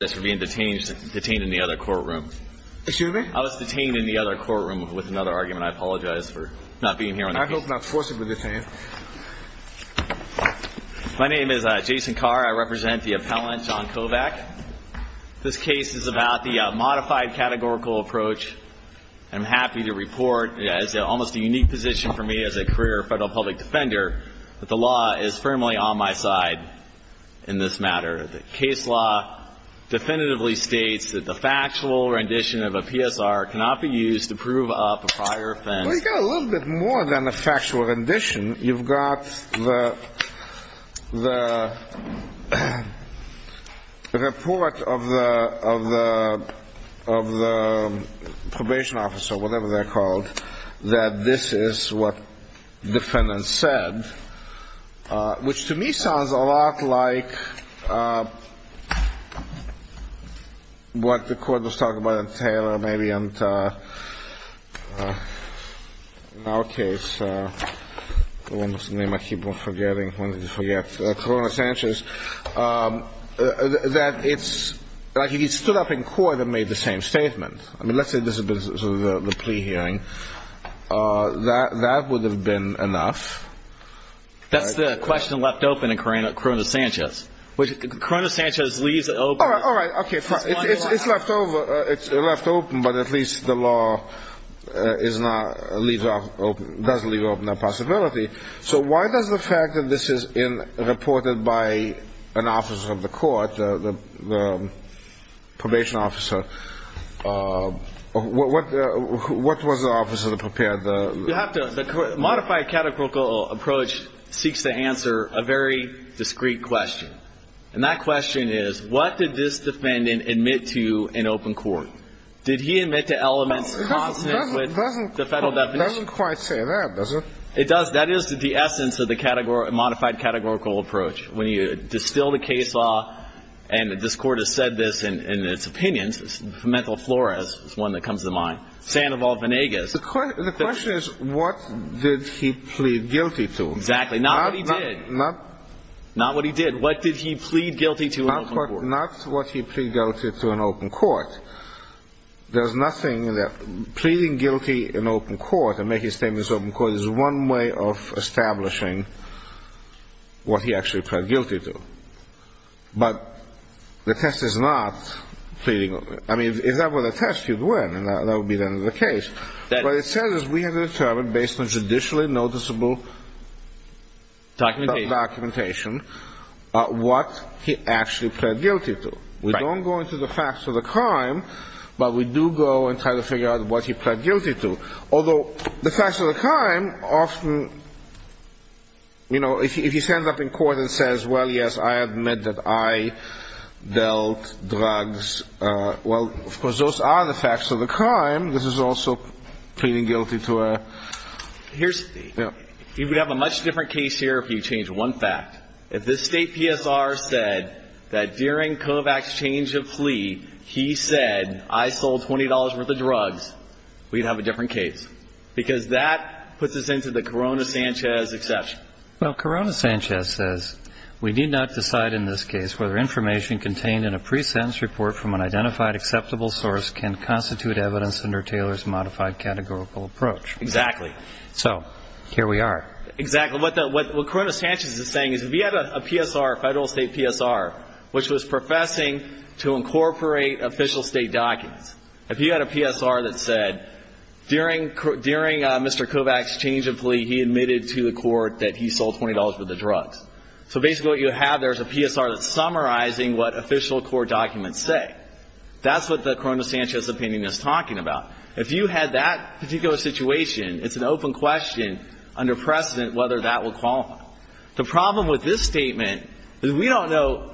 I was detained in the other courtroom with another argument. I apologize for not being here on the case. I hope not forcibly detained. My name is Jason Carr. I represent the appellant, John Kovac. This case is about the modified categorical approach. I'm happy to report it's almost a unique position for me as a career federal public defender, but the law is firmly on my side in this matter. The case law definitively states that the factual rendition of a PSR cannot be used to prove up a prior offense. Well, you've got a little bit more than a factual rendition. You've got the report of the probation officer, whatever they're called, that this is what defendants said, which to me sounds a lot like what the court was talking about in Taylor, maybe in our case. I keep on forgetting. Corona Sanchez. That it's like if you stood up in court and made the same statement, I mean, let's say this has been the plea hearing. That would have been enough. That's the question left open in Corona Sanchez. Corona Sanchez leaves it open. All right, all right. It's left open, but at least the law does leave open that possibility. So why does the fact that this is reported by an officer of the court, the probation officer, what was the officer that prepared the? The modified categorical approach seeks to answer a very discreet question, and that question is what did this defendant admit to in open court? Did he admit to elements consonant with the federal definition? It doesn't quite say that, does it? It does. That is the essence of the modified categorical approach. When you distill the case law, and this court has said this in its opinions, mental flora is one that comes to mind. The question is what did he plead guilty to? Exactly. Not what he did. Not what he did. What did he plead guilty to in open court? Not what he pleaded guilty to in open court. There's nothing that pleading guilty in open court and making statements in open court is one way of establishing what he actually pled guilty to. But the test is not pleading. I mean, if that were the test, you'd win, and that would be the end of the case. What it says is we have determined, based on judicially noticeable documentation, what he actually pled guilty to. We don't go into the facts of the crime, but we do go and try to figure out what he pled guilty to. Although the facts of the crime often, you know, if he stands up in court and says, well, yes, I admit that I dealt drugs, well, of course, those are the facts of the crime. This is also pleading guilty to a... Here's the thing. You would have a much different case here if you changed one fact. If this State PSR said that during Kovach's change of plea, he said, I sold $20 worth of drugs, we'd have a different case because that puts us into the Corona-Sanchez exception. Well, Corona-Sanchez says, we need not decide in this case whether information contained in a pre-sentence report from an identified acceptable source can constitute evidence under Taylor's modified categorical approach. Exactly. So here we are. Exactly. What Corona-Sanchez is saying is if he had a PSR, a federal State PSR, which was professing to incorporate official State documents, if he had a PSR that said during Mr. Kovach's change of plea, he admitted to the court that he sold $20 worth of drugs, so basically what you have there is a PSR that's summarizing what official court documents say. That's what the Corona-Sanchez opinion is talking about. If you had that particular situation, it's an open question under precedent whether that would qualify. The problem with this statement is we don't know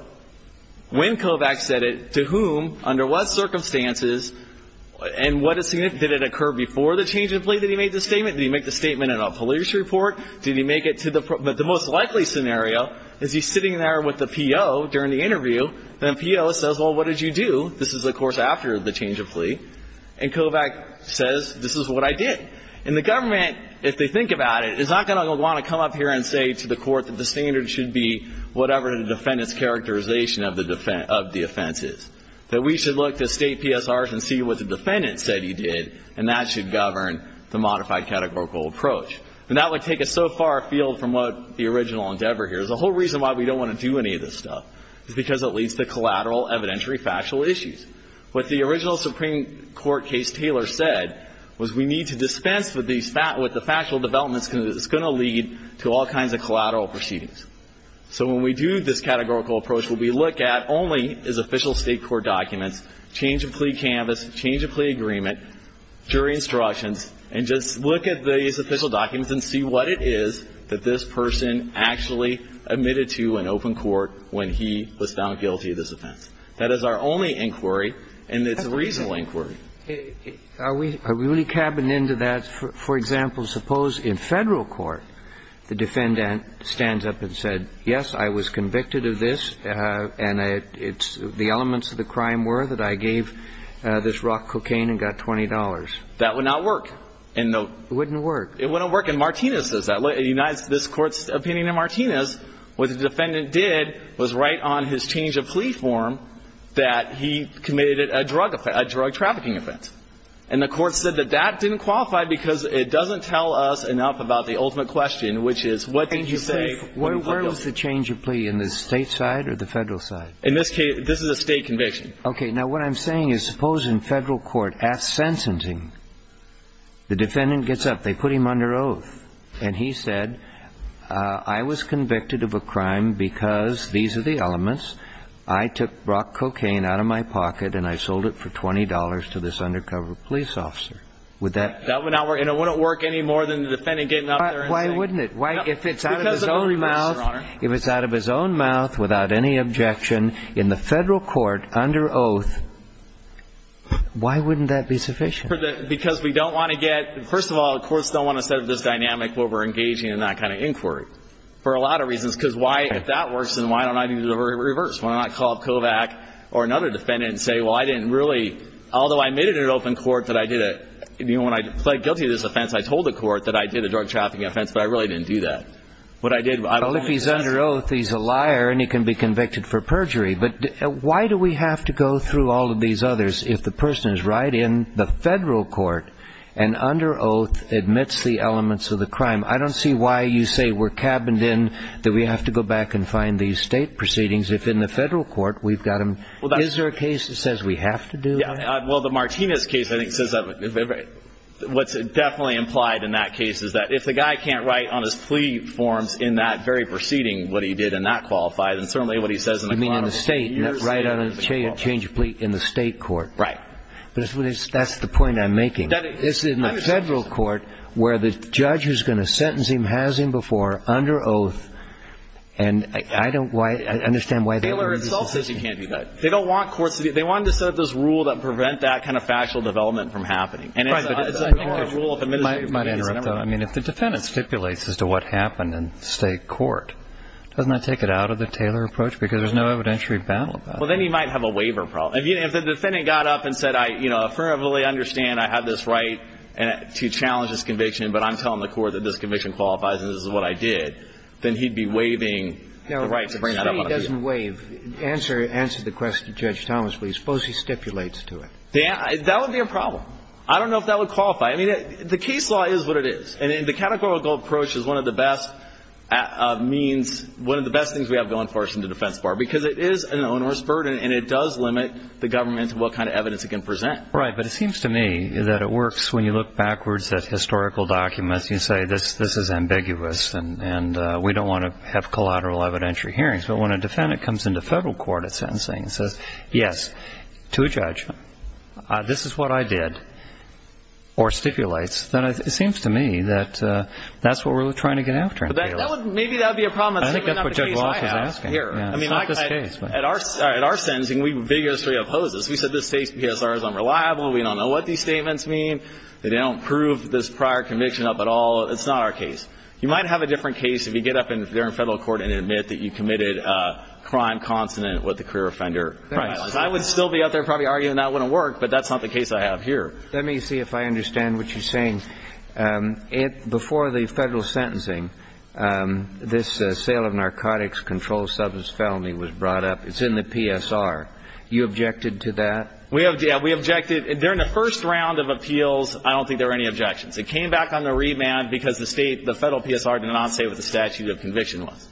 when Kovach said it, to whom, under what circumstances, and did it occur before the change of plea that he made the statement? Did he make the statement in a police report? Did he make it to the most likely scenario? Is he sitting there with the PO during the interview, and the PO says, well, what did you do? This is, of course, after the change of plea. And Kovach says, this is what I did. And the government, if they think about it, is not going to want to come up here and say to the court that the standard should be whatever the defendant's characterization of the offense is. That we should look to state PSRs and see what the defendant said he did, and that should govern the modified categorical approach. And that would take us so far afield from what the original endeavor here is. The whole reason why we don't want to do any of this stuff is because it leads to collateral evidentiary factual issues. What the original Supreme Court case Taylor said was we need to dispense with the factual developments because it's going to lead to all kinds of collateral proceedings. So when we do this categorical approach, what we look at only is official state court documents, change of plea canvas, change of plea agreement, jury instructions, and just look at these official documents and see what it is that this person actually admitted to in open court when he was found guilty of this offense. That is our only inquiry, and it's a reasonable inquiry. Are we really cabbing into that? For example, suppose in Federal court the defendant stands up and said, yes, I was convicted of this, and the elements of the crime were that I gave this rock cocaine and got $20. That would not work. It wouldn't work. It wouldn't work. And Martinez says that. It unites this Court's opinion in Martinez. What the defendant did was right on his change of plea form that he committed a drug offense, a drug trafficking offense. And the Court said that that didn't qualify because it doesn't tell us enough about the ultimate question, which is what did you say when you were guilty? Where is the change of plea, in the State side or the Federal side? In this case, this is a State conviction. Okay. Now, what I'm saying is suppose in Federal court at sentencing the defendant gets up. They put him under oath, and he said, I was convicted of a crime because these are the elements. I took rock cocaine out of my pocket, and I sold it for $20 to this undercover police officer. Would that? That would not work. And it wouldn't work any more than the defendant getting up there and saying. Why wouldn't it? If it's out of his own mouth. If it's out of his own mouth without any objection in the Federal court under oath, why wouldn't that be sufficient? Because we don't want to get. First of all, the courts don't want to set up this dynamic where we're engaging in that kind of inquiry for a lot of reasons. Because if that works, then why don't I do the reverse? Why don't I call Kovach or another defendant and say, well, I didn't really. Although I made it an open court that I did it. When I pled guilty to this offense, I told the court that I did a drug trafficking offense, but I really didn't do that. Well, if he's under oath, he's a liar, and he can be convicted for perjury. But why do we have to go through all of these others if the person is right in the Federal court and under oath admits the elements of the crime? I don't see why you say we're cabined in, that we have to go back and find these State proceedings if in the Federal court we've got them. Is there a case that says we have to do that? Well, the Martinez case, I think, says that. What's definitely implied in that case is that if the guy can't write on his plea forms in that very proceeding what he did and not qualify, then certainly what he says in the clause is not going to qualify. You mean in the State, not write on a change of plea in the State court. Right. That's the point I'm making. It's in the Federal court where the judge is going to sentence him, has him before, under oath. And I don't understand why they wouldn't do that. Taylor itself says he can't do that. They don't want courts to do that. They want to set up this rule that prevents that kind of factual development from happening. And it's a rule of administrative convenience. I might interrupt, though. I mean, if the defendant stipulates as to what happened in State court, doesn't that take it out of the Taylor approach because there's no evidentiary battle about it? Well, then he might have a waiver problem. If the defendant got up and said, you know, I firmly understand I have this right to challenge this conviction, but I'm telling the court that this conviction qualifies and this is what I did, then he'd be waiving the right to bring that up on appeal. Now, if he doesn't waive, answer the question to Judge Thomas, please. Suppose he stipulates to it. That would be a problem. I don't know if that would qualify. I mean, the case law is what it is. And the categorical approach is one of the best means, one of the best things we have going for us in the defense because it is an onerous burden and it does limit the government to what kind of evidence it can present. Right. But it seems to me that it works when you look backwards at historical documents and say this is ambiguous and we don't want to have collateral evidentiary hearings. But when a defendant comes into federal court at sentencing and says, yes, to a judge, this is what I did, or stipulates, then it seems to me that that's what we're trying to get after. Maybe that would be a problem. I think that's what Judge Walsh is asking. I mean, at our sentencing, we vigorously oppose this. We said this states PSR is unreliable. We don't know what these statements mean. They don't prove this prior conviction up at all. It's not our case. You might have a different case if you get up there in federal court and admit that you committed a crime consonant with the career offender. I would still be out there probably arguing that wouldn't work, but that's not the case I have here. Let me see if I understand what you're saying. Before the federal sentencing, this sale of narcotics, controlled substance felony was brought up. It's in the PSR. You objected to that? We objected. During the first round of appeals, I don't think there were any objections. It came back on the remand because the State, the Federal PSR did not say what the statute of conviction was.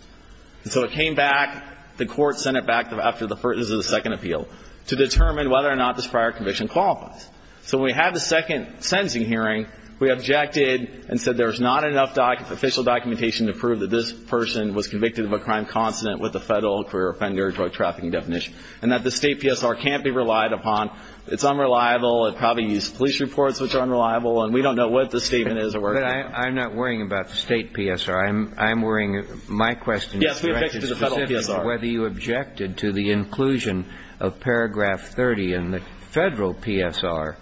So it came back, the Court sent it back after the first or the second appeal to determine whether or not this prior conviction qualifies. So when we had the second sentencing hearing, we objected and said there's not enough official documentation to prove that this person was convicted of a crime consonant with the federal career offender drug trafficking definition and that the State PSR can't be relied upon. It's unreliable. It probably used police reports, which are unreliable, and we don't know what this statement is or where it came from. But I'm not worrying about the State PSR. I'm worrying my question is directed specifically to whether you objected to the inclusion of paragraph 30 in the Federal PSR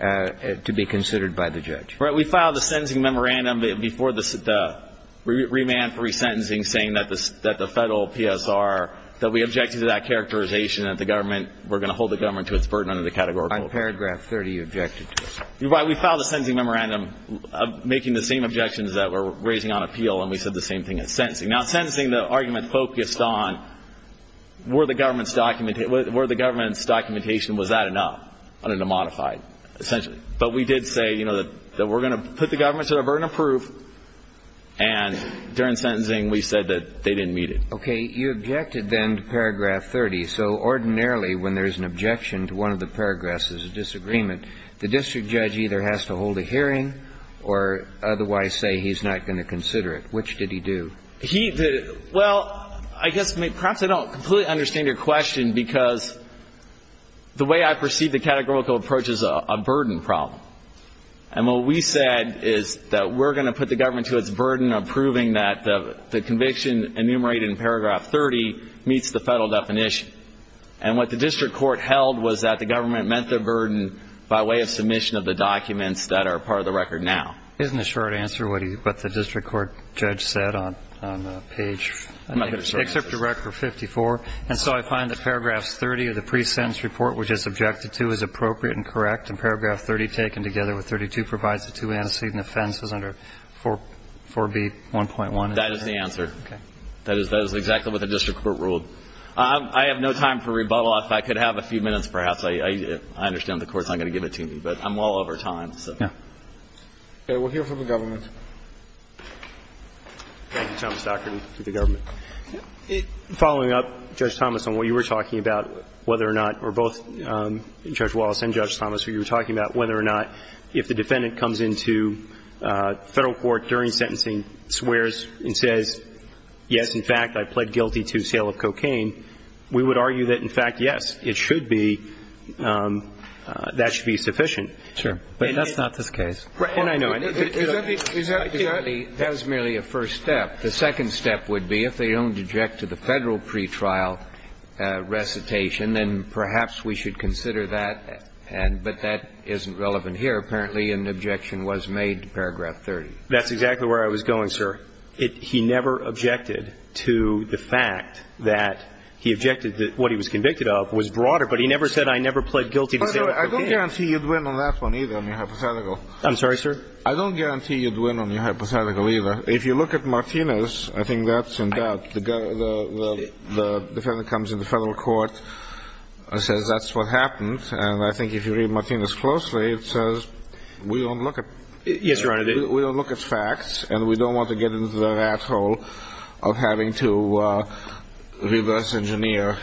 to be considered by the judge. Right. We filed a sentencing memorandum before the remand for resentencing saying that the Federal PSR, that we objected to that characterization, that the government, we're going to hold the government to its burden under the category of quote. On paragraph 30, you objected to it. Right. We filed a sentencing memorandum making the same objections that we're raising on appeal, and we said the same thing in sentencing. Now, in sentencing, the argument focused on were the government's documentation, was that enough under the modified, essentially. But we did say, you know, that we're going to put the government to their burden of proof, and during sentencing we said that they didn't meet it. Okay. You objected then to paragraph 30. So ordinarily when there's an objection to one of the paragraphs, there's a disagreement, the district judge either has to hold a hearing or otherwise say he's not going to consider it. Which did he do? Well, I guess perhaps I don't completely understand your question because the way I perceive the categorical approach is a burden problem. And what we said is that we're going to put the government to its burden of proving that the conviction enumerated in paragraph 30 meets the Federal definition. And what the district court held was that the government met their burden by way of submission of the documents that are part of the record now. Isn't the short answer what the district court judge said on the page? I'm not going to say it. Excerpt to record 54. And so I find that paragraph 30 of the pre-sentence report, which is objected to, is appropriate and correct. And paragraph 30 taken together with 32 provides the two antecedent offenses under 4B1.1. That is the answer. Okay. That is exactly what the district court ruled. I have no time for rebuttal. If I could have a few minutes perhaps, I understand the Court's not going to give it to me. But I'm well over time. Yeah. Okay. We'll hear from the government. Thank you, Dr. Thomas, and to the government. Following up, Judge Thomas, on what you were talking about, whether or not, or both Judge Wallace and Judge Thomas, what you were talking about, whether or not if the defendant comes into Federal court during sentencing, swears and says, yes, in fact, I pled guilty to sale of cocaine, we would argue that, in fact, yes, it should be, that should be sufficient. Sure. But that's not this case. And I know it. That was merely a first step. The second step would be if they don't object to the Federal pretrial recitation, then perhaps we should consider that. But that isn't relevant here. Apparently an objection was made to paragraph 30. That's exactly where I was going, sir. He never objected to the fact that he objected that what he was convicted of was broader, but he never said I never pled guilty to sale of cocaine. I don't guarantee you'd win on that one either on your hypothetical. I'm sorry, sir? I don't guarantee you'd win on your hypothetical either. If you look at Martinez, I think that's in doubt. The defendant comes into Federal court and says that's what happened. And I think if you read Martinez closely, it says we don't look at facts, and we don't want to get into the rat hole of having to reverse engineer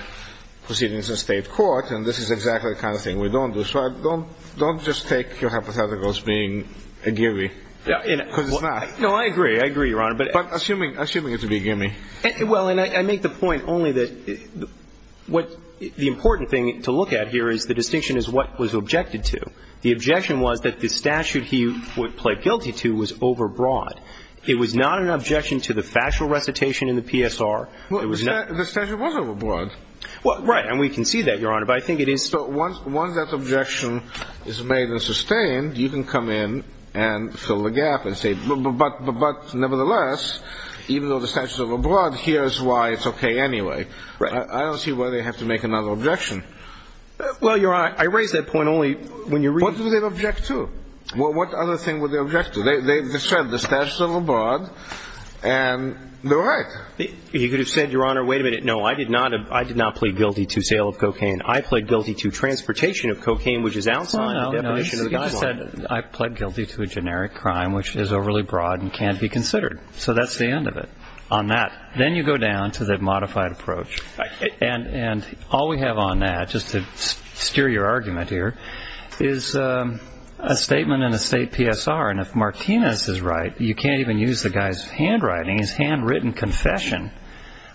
proceedings in state court. And this is exactly the kind of thing we don't do. So don't just take your hypothetical as being a gimme, because it's not. No, I agree. I agree, Your Honor. But assuming it to be a gimme. Well, and I make the point only that what the important thing to look at here is the distinction is what was objected to. The objection was that the statute he pled guilty to was overbroad. It was not an objection to the factual recitation in the PSR. Right. And we can see that, Your Honor. But I think it is. So once that objection is made and sustained, you can come in and fill the gap and say, but nevertheless, even though the statute is overbroad, here's why it's okay anyway. Right. I don't see why they have to make another objection. Well, Your Honor, I raise that point only when you read. What do they object to? What other thing would they object to? They said the statute is overbroad, and they're right. You could have said, Your Honor, wait a minute. No, I did not plead guilty to sale of cocaine. I pled guilty to transportation of cocaine, which is outside the definition of the guy's law. You just said, I pled guilty to a generic crime, which is overly broad and can't be considered. So that's the end of it on that. Then you go down to the modified approach. And all we have on that, just to steer your argument here, is a statement in a state PSR. And if Martinez is right, you can't even use the guy's handwriting, his handwritten confession.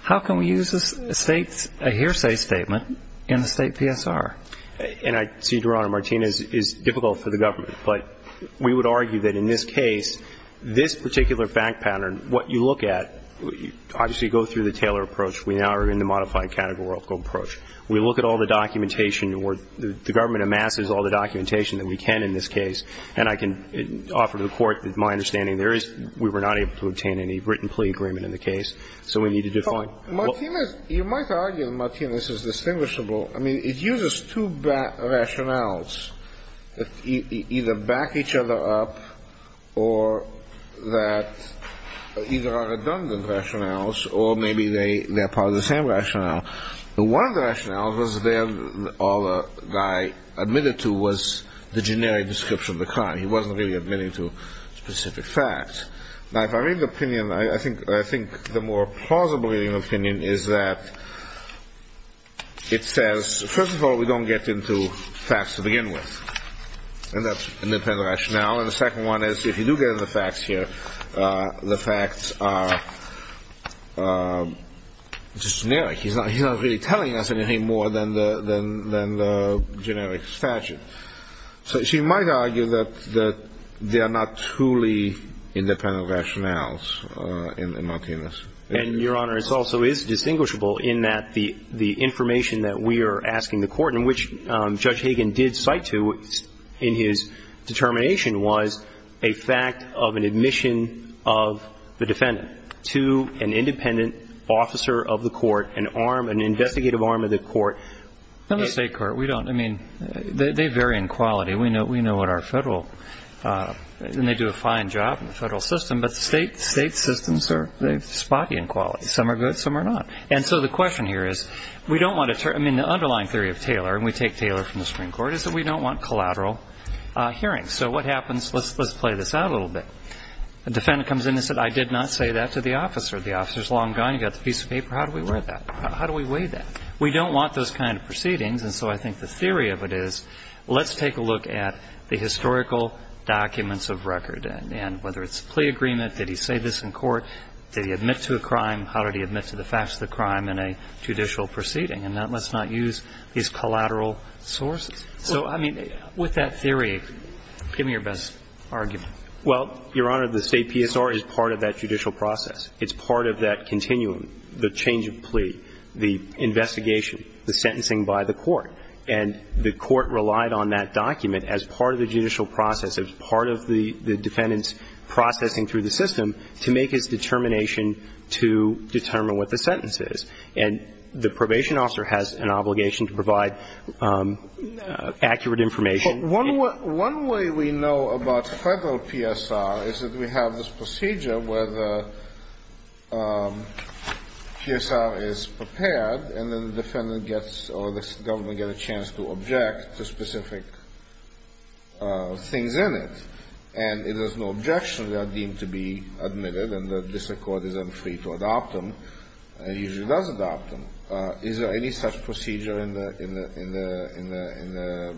How can we use a hearsay statement in a state PSR? And, Your Honor, Martinez is difficult for the government. But we would argue that in this case, this particular fact pattern, what you look at, obviously, you go through the Taylor approach. We now are in the modified categorical approach. We look at all the documentation. The government amasses all the documentation that we can in this case. And I can offer to the Court my understanding. We were not able to obtain any written plea agreement in the case. So we need to define. Martinez, you might argue that Martinez is distinguishable. I mean, it uses two rationales that either back each other up or that either are redundant rationales or maybe they're part of the same rationale. One of the rationales was that all the guy admitted to was the generic description of the crime. He wasn't really admitting to specific facts. Now, if I read the opinion, I think the more plausible reading of the opinion is that it says, first of all, we don't get into facts to begin with. And that's an independent rationale. And the second one is if you do get into the facts here, the facts are just generic. He's not really telling us anything more than the generic statute. So she might argue that they are not truly independent rationales in Martinez. And, Your Honor, it also is distinguishable in that the information that we are asking the Court, and which Judge Hagan did cite to in his determination, was a fact of an admission of the defendant to an independent officer of the Court, No, the State Court, we don't. I mean, they vary in quality. We know what our federal, and they do a fine job in the federal system, but the state systems are spotty in quality. Some are good, some are not. And so the question here is, we don't want to, I mean, the underlying theory of Taylor, and we take Taylor from the Supreme Court, is that we don't want collateral hearings. So what happens, let's play this out a little bit. The defendant comes in and says, I did not say that to the officer. The officer's long gone. He got the piece of paper. How do we weigh that? We don't want those kind of proceedings, and so I think the theory of it is, let's take a look at the historical documents of record, and whether it's a plea agreement, did he say this in court, did he admit to a crime, how did he admit to the facts of the crime in a judicial proceeding, and let's not use these collateral sources. So, I mean, with that theory, give me your best argument. Well, Your Honor, the State PSR is part of that judicial process. It's part of that continuum, the change of plea, the investigation, the sentencing by the court, and the court relied on that document as part of the judicial process, as part of the defendant's processing through the system to make his determination to determine what the sentence is. And the probation officer has an obligation to provide accurate information. But one way we know about Federal PSR is that we have this procedure where the PSR is prepared and then the defendant gets, or the government gets a chance to object to specific things in it, and if there's no objection, they are deemed to be admitted and the district court is then free to adopt them, and usually does adopt them. Is there any such procedure in the, in the, in the,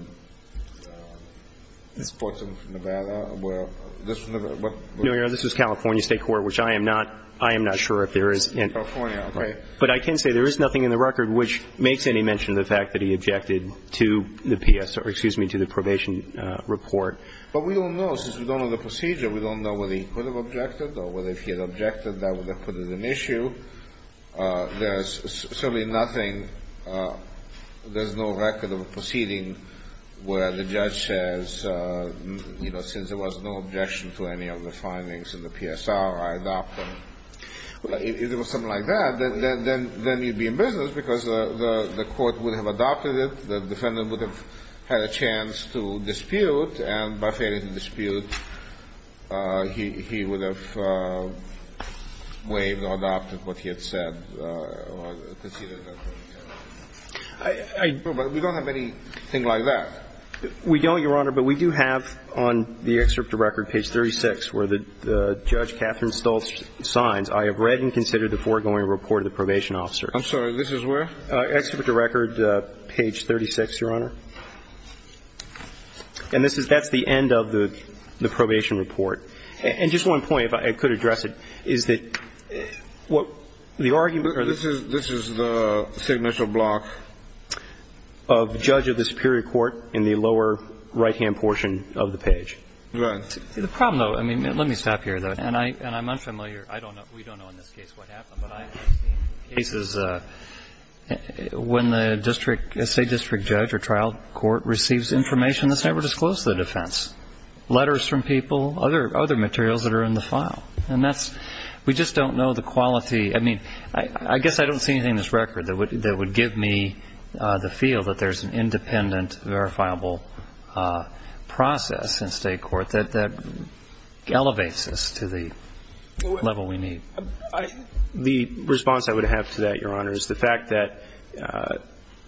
in the courts of Nevada where this was never, what? No, Your Honor, this was California State Court, which I am not, I am not sure if there is. In California, okay. But I can say there is nothing in the record which makes any mention of the fact that he objected to the PSR, excuse me, to the probation report. But we don't know. Since we don't know the procedure, we don't know whether he could have objected or whether if he had objected, that would have put it at issue. There is certainly nothing, there is no record of a proceeding where the judge says, you know, since there was no objection to any of the findings in the PSR, I adopt them. If it was something like that, then you would be in business because the court would have adopted it, the defendant would have had a chance to dispute, and by failing to dispute, he would have waived or adopted what he had said. But we don't have anything like that. We don't, Your Honor, but we do have on the excerpt of record, page 36, where the judge, Catherine Stultz, signs, I have read and considered the foregoing report of the probation officer. I'm sorry, this is where? Excerpt of record, page 36, Your Honor. And this is the end of the probation report. And just one point, if I could address it, is that what the argument or the ---- This is the signature block. Of judge of the superior court in the lower right-hand portion of the page. Right. The problem, though, I mean, let me stop here, though, and I'm unfamiliar. I don't know, we don't know in this case what happened, but I have seen cases when the district, state district judge or trial court receives information that's never disclosed to the defense. Letters from people, other materials that are in the file. And that's, we just don't know the quality. I mean, I guess I don't see anything in this record that would give me the feel that there's an independent, verifiable process in state court that elevates us to the level we need. The response I would have to that, Your Honor, is the fact that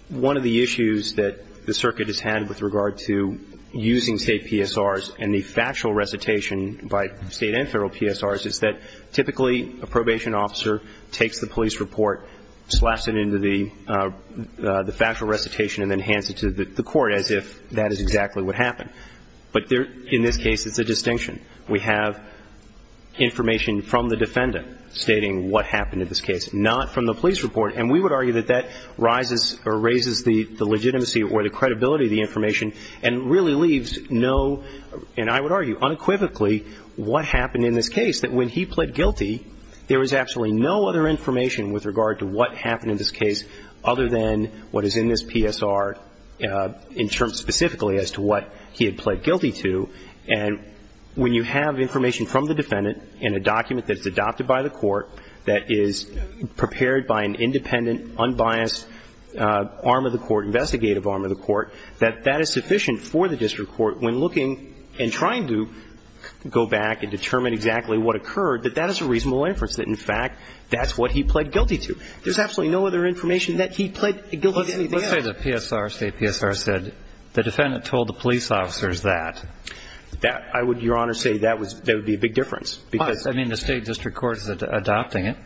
one of the issues that the circuit has had with regard to using state PSRs and the factual recitation by state and federal PSRs is that typically a probation officer takes the police report, slashes it into the factual recitation and then hands it to the court as if that is exactly what happened. But in this case it's a distinction. We have information from the defendant stating what happened in this case, not from the police report. And we would argue that that rises or raises the legitimacy or the credibility of the information and really leaves no, and I would argue unequivocally, what happened in this case. That when he pled guilty there was absolutely no other information with regard to what happened in this case other than what is in this PSR in terms specifically as to what he had pled guilty to. And when you have information from the defendant in a document that's adopted by the independent, unbiased arm of the court, investigative arm of the court, that that is sufficient for the district court when looking and trying to go back and determine exactly what occurred, that that is a reasonable inference, that in fact that's what he pled guilty to. There's absolutely no other information that he pled guilty to anything else. Let's say the PSR, state PSR, said the defendant told the police officers that. That, I would, Your Honor, say that would be a big difference. Why? I mean, the state district court is adopting it.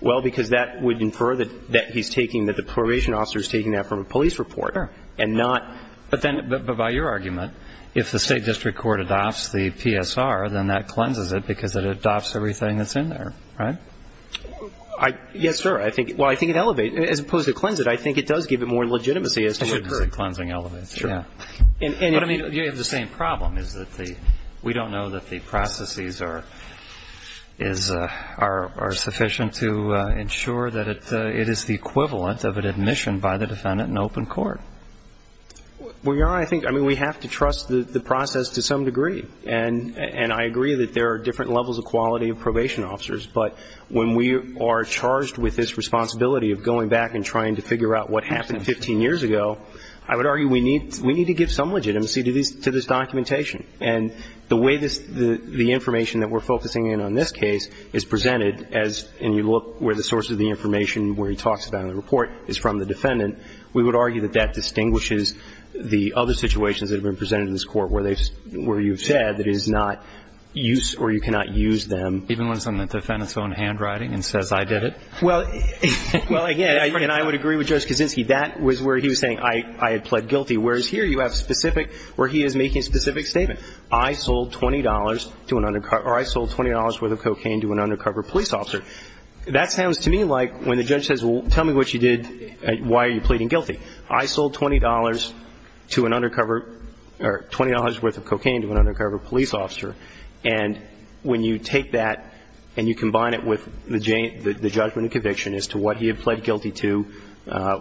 Well, because that would infer that he's taking, that the probation officer's taking that from a police report. Sure. And not. But then, but by your argument, if the state district court adopts the PSR, then that cleanses it because it adopts everything that's in there, right? Yes, sir. I think, well, I think it elevates. As opposed to cleanse it, I think it does give it more legitimacy as to what the cleansing elevates. Sure. Yeah. But I mean, you have the same problem is that the, we don't know that the processes are sufficient to ensure that it is the equivalent of an admission by the defendant in open court. Well, Your Honor, I think, I mean, we have to trust the process to some degree. And I agree that there are different levels of quality of probation officers. But when we are charged with this responsibility of going back and trying to figure out what happened 15 years ago, I would argue we need to give some legitimacy to this documentation. And the way this, the information that we're focusing in on this case is presented as, and you look where the source of the information, where he talks about it in the report, is from the defendant, we would argue that that distinguishes the other situations that have been presented in this court where they've, where you've said that it is not use or you cannot use them. Even when it's on the defendant's own handwriting and says I did it? Well, again, and I would agree with Judge Kaczynski. That was where he was saying I had pled guilty. Whereas here you have specific, where he is making a specific statement. I sold $20 to an, or I sold $20 worth of cocaine to an undercover police officer. That sounds to me like when the judge says, well, tell me what you did, why are you pleading guilty? I sold $20 to an undercover, or $20 worth of cocaine to an undercover police officer. And when you take that and you combine it with the judgment and conviction as to what he had pled guilty to,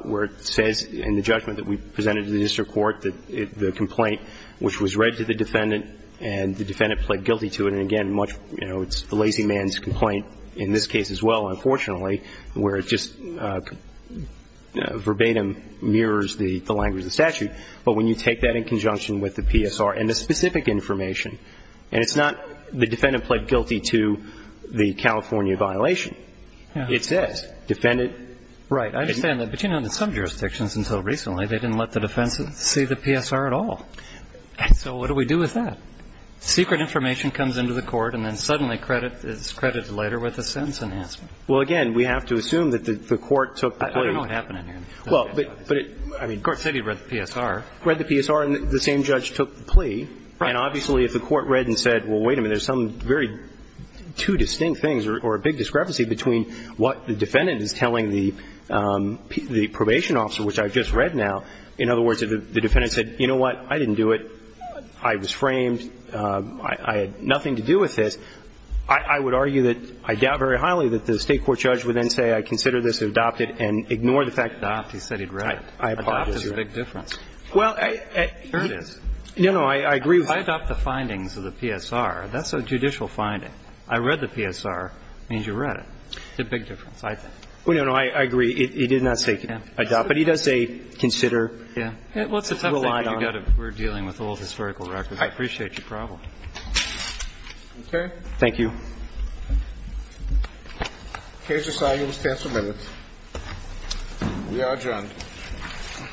where it says in the judgment that we presented to the district court that the complaint which was read to the defendant and the defendant pled guilty to it, and again, much, you know, it's the lazy man's complaint in this case as well, unfortunately, where it just verbatim mirrors the language of the statute. But when you take that in conjunction with the PSR and the specific information, and it's not the defendant pled guilty to the California violation. It says defendant. Right. I understand that. But, you know, in some jurisdictions until recently, they didn't let the defense see the PSR at all. So what do we do with that? Secret information comes into the court, and then suddenly credit is credited later with a sentence enhancement. Well, again, we have to assume that the court took the plea. I don't know what happened in here. Well, but it, I mean. They said he read the PSR. Read the PSR, and the same judge took the plea. Right. And obviously if the court read and said, well, wait a minute, there's some very two distinct things, or a big discrepancy between what the defendant is telling the probation officer, which I've just read now. In other words, if the defendant said, you know what? I didn't do it. I was framed. I had nothing to do with this. I would argue that I doubt very highly that the State court judge would then say I consider this adopted and ignore the fact. Adopt. He said he'd read it. Adopt is a big difference. Well, I. Here it is. No, no, I agree. If I adopt the findings of the PSR, that's a judicial finding. I read the PSR means you read it. It's a big difference, I think. Well, no, no, I agree. He did not say adopt. But he does say consider. Yeah. Well, it's a tough thing you've got to. We're dealing with old historical records. I appreciate your problem. Okay. Thank you. Here's your sign. You will stand for a minute. We are adjourned. Thank you. Thank you. Thank you. Thank you.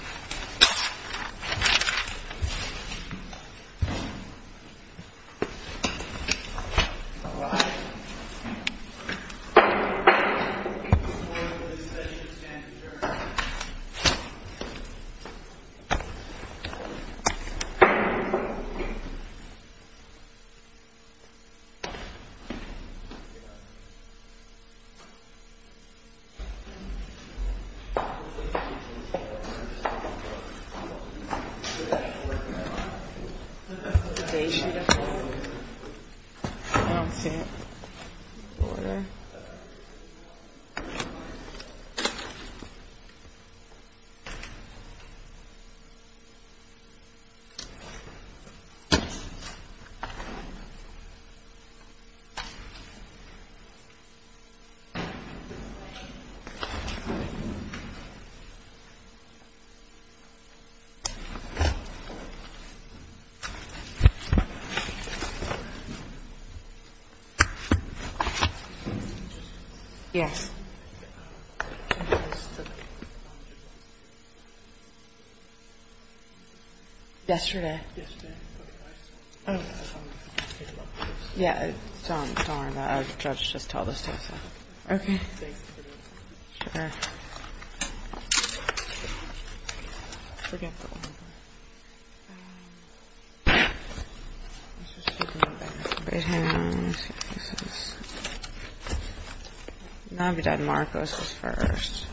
Yes. Yesterday. Oh, yeah. Just tell us. Sure. Forget. Yeah. Not be done. Marcos first.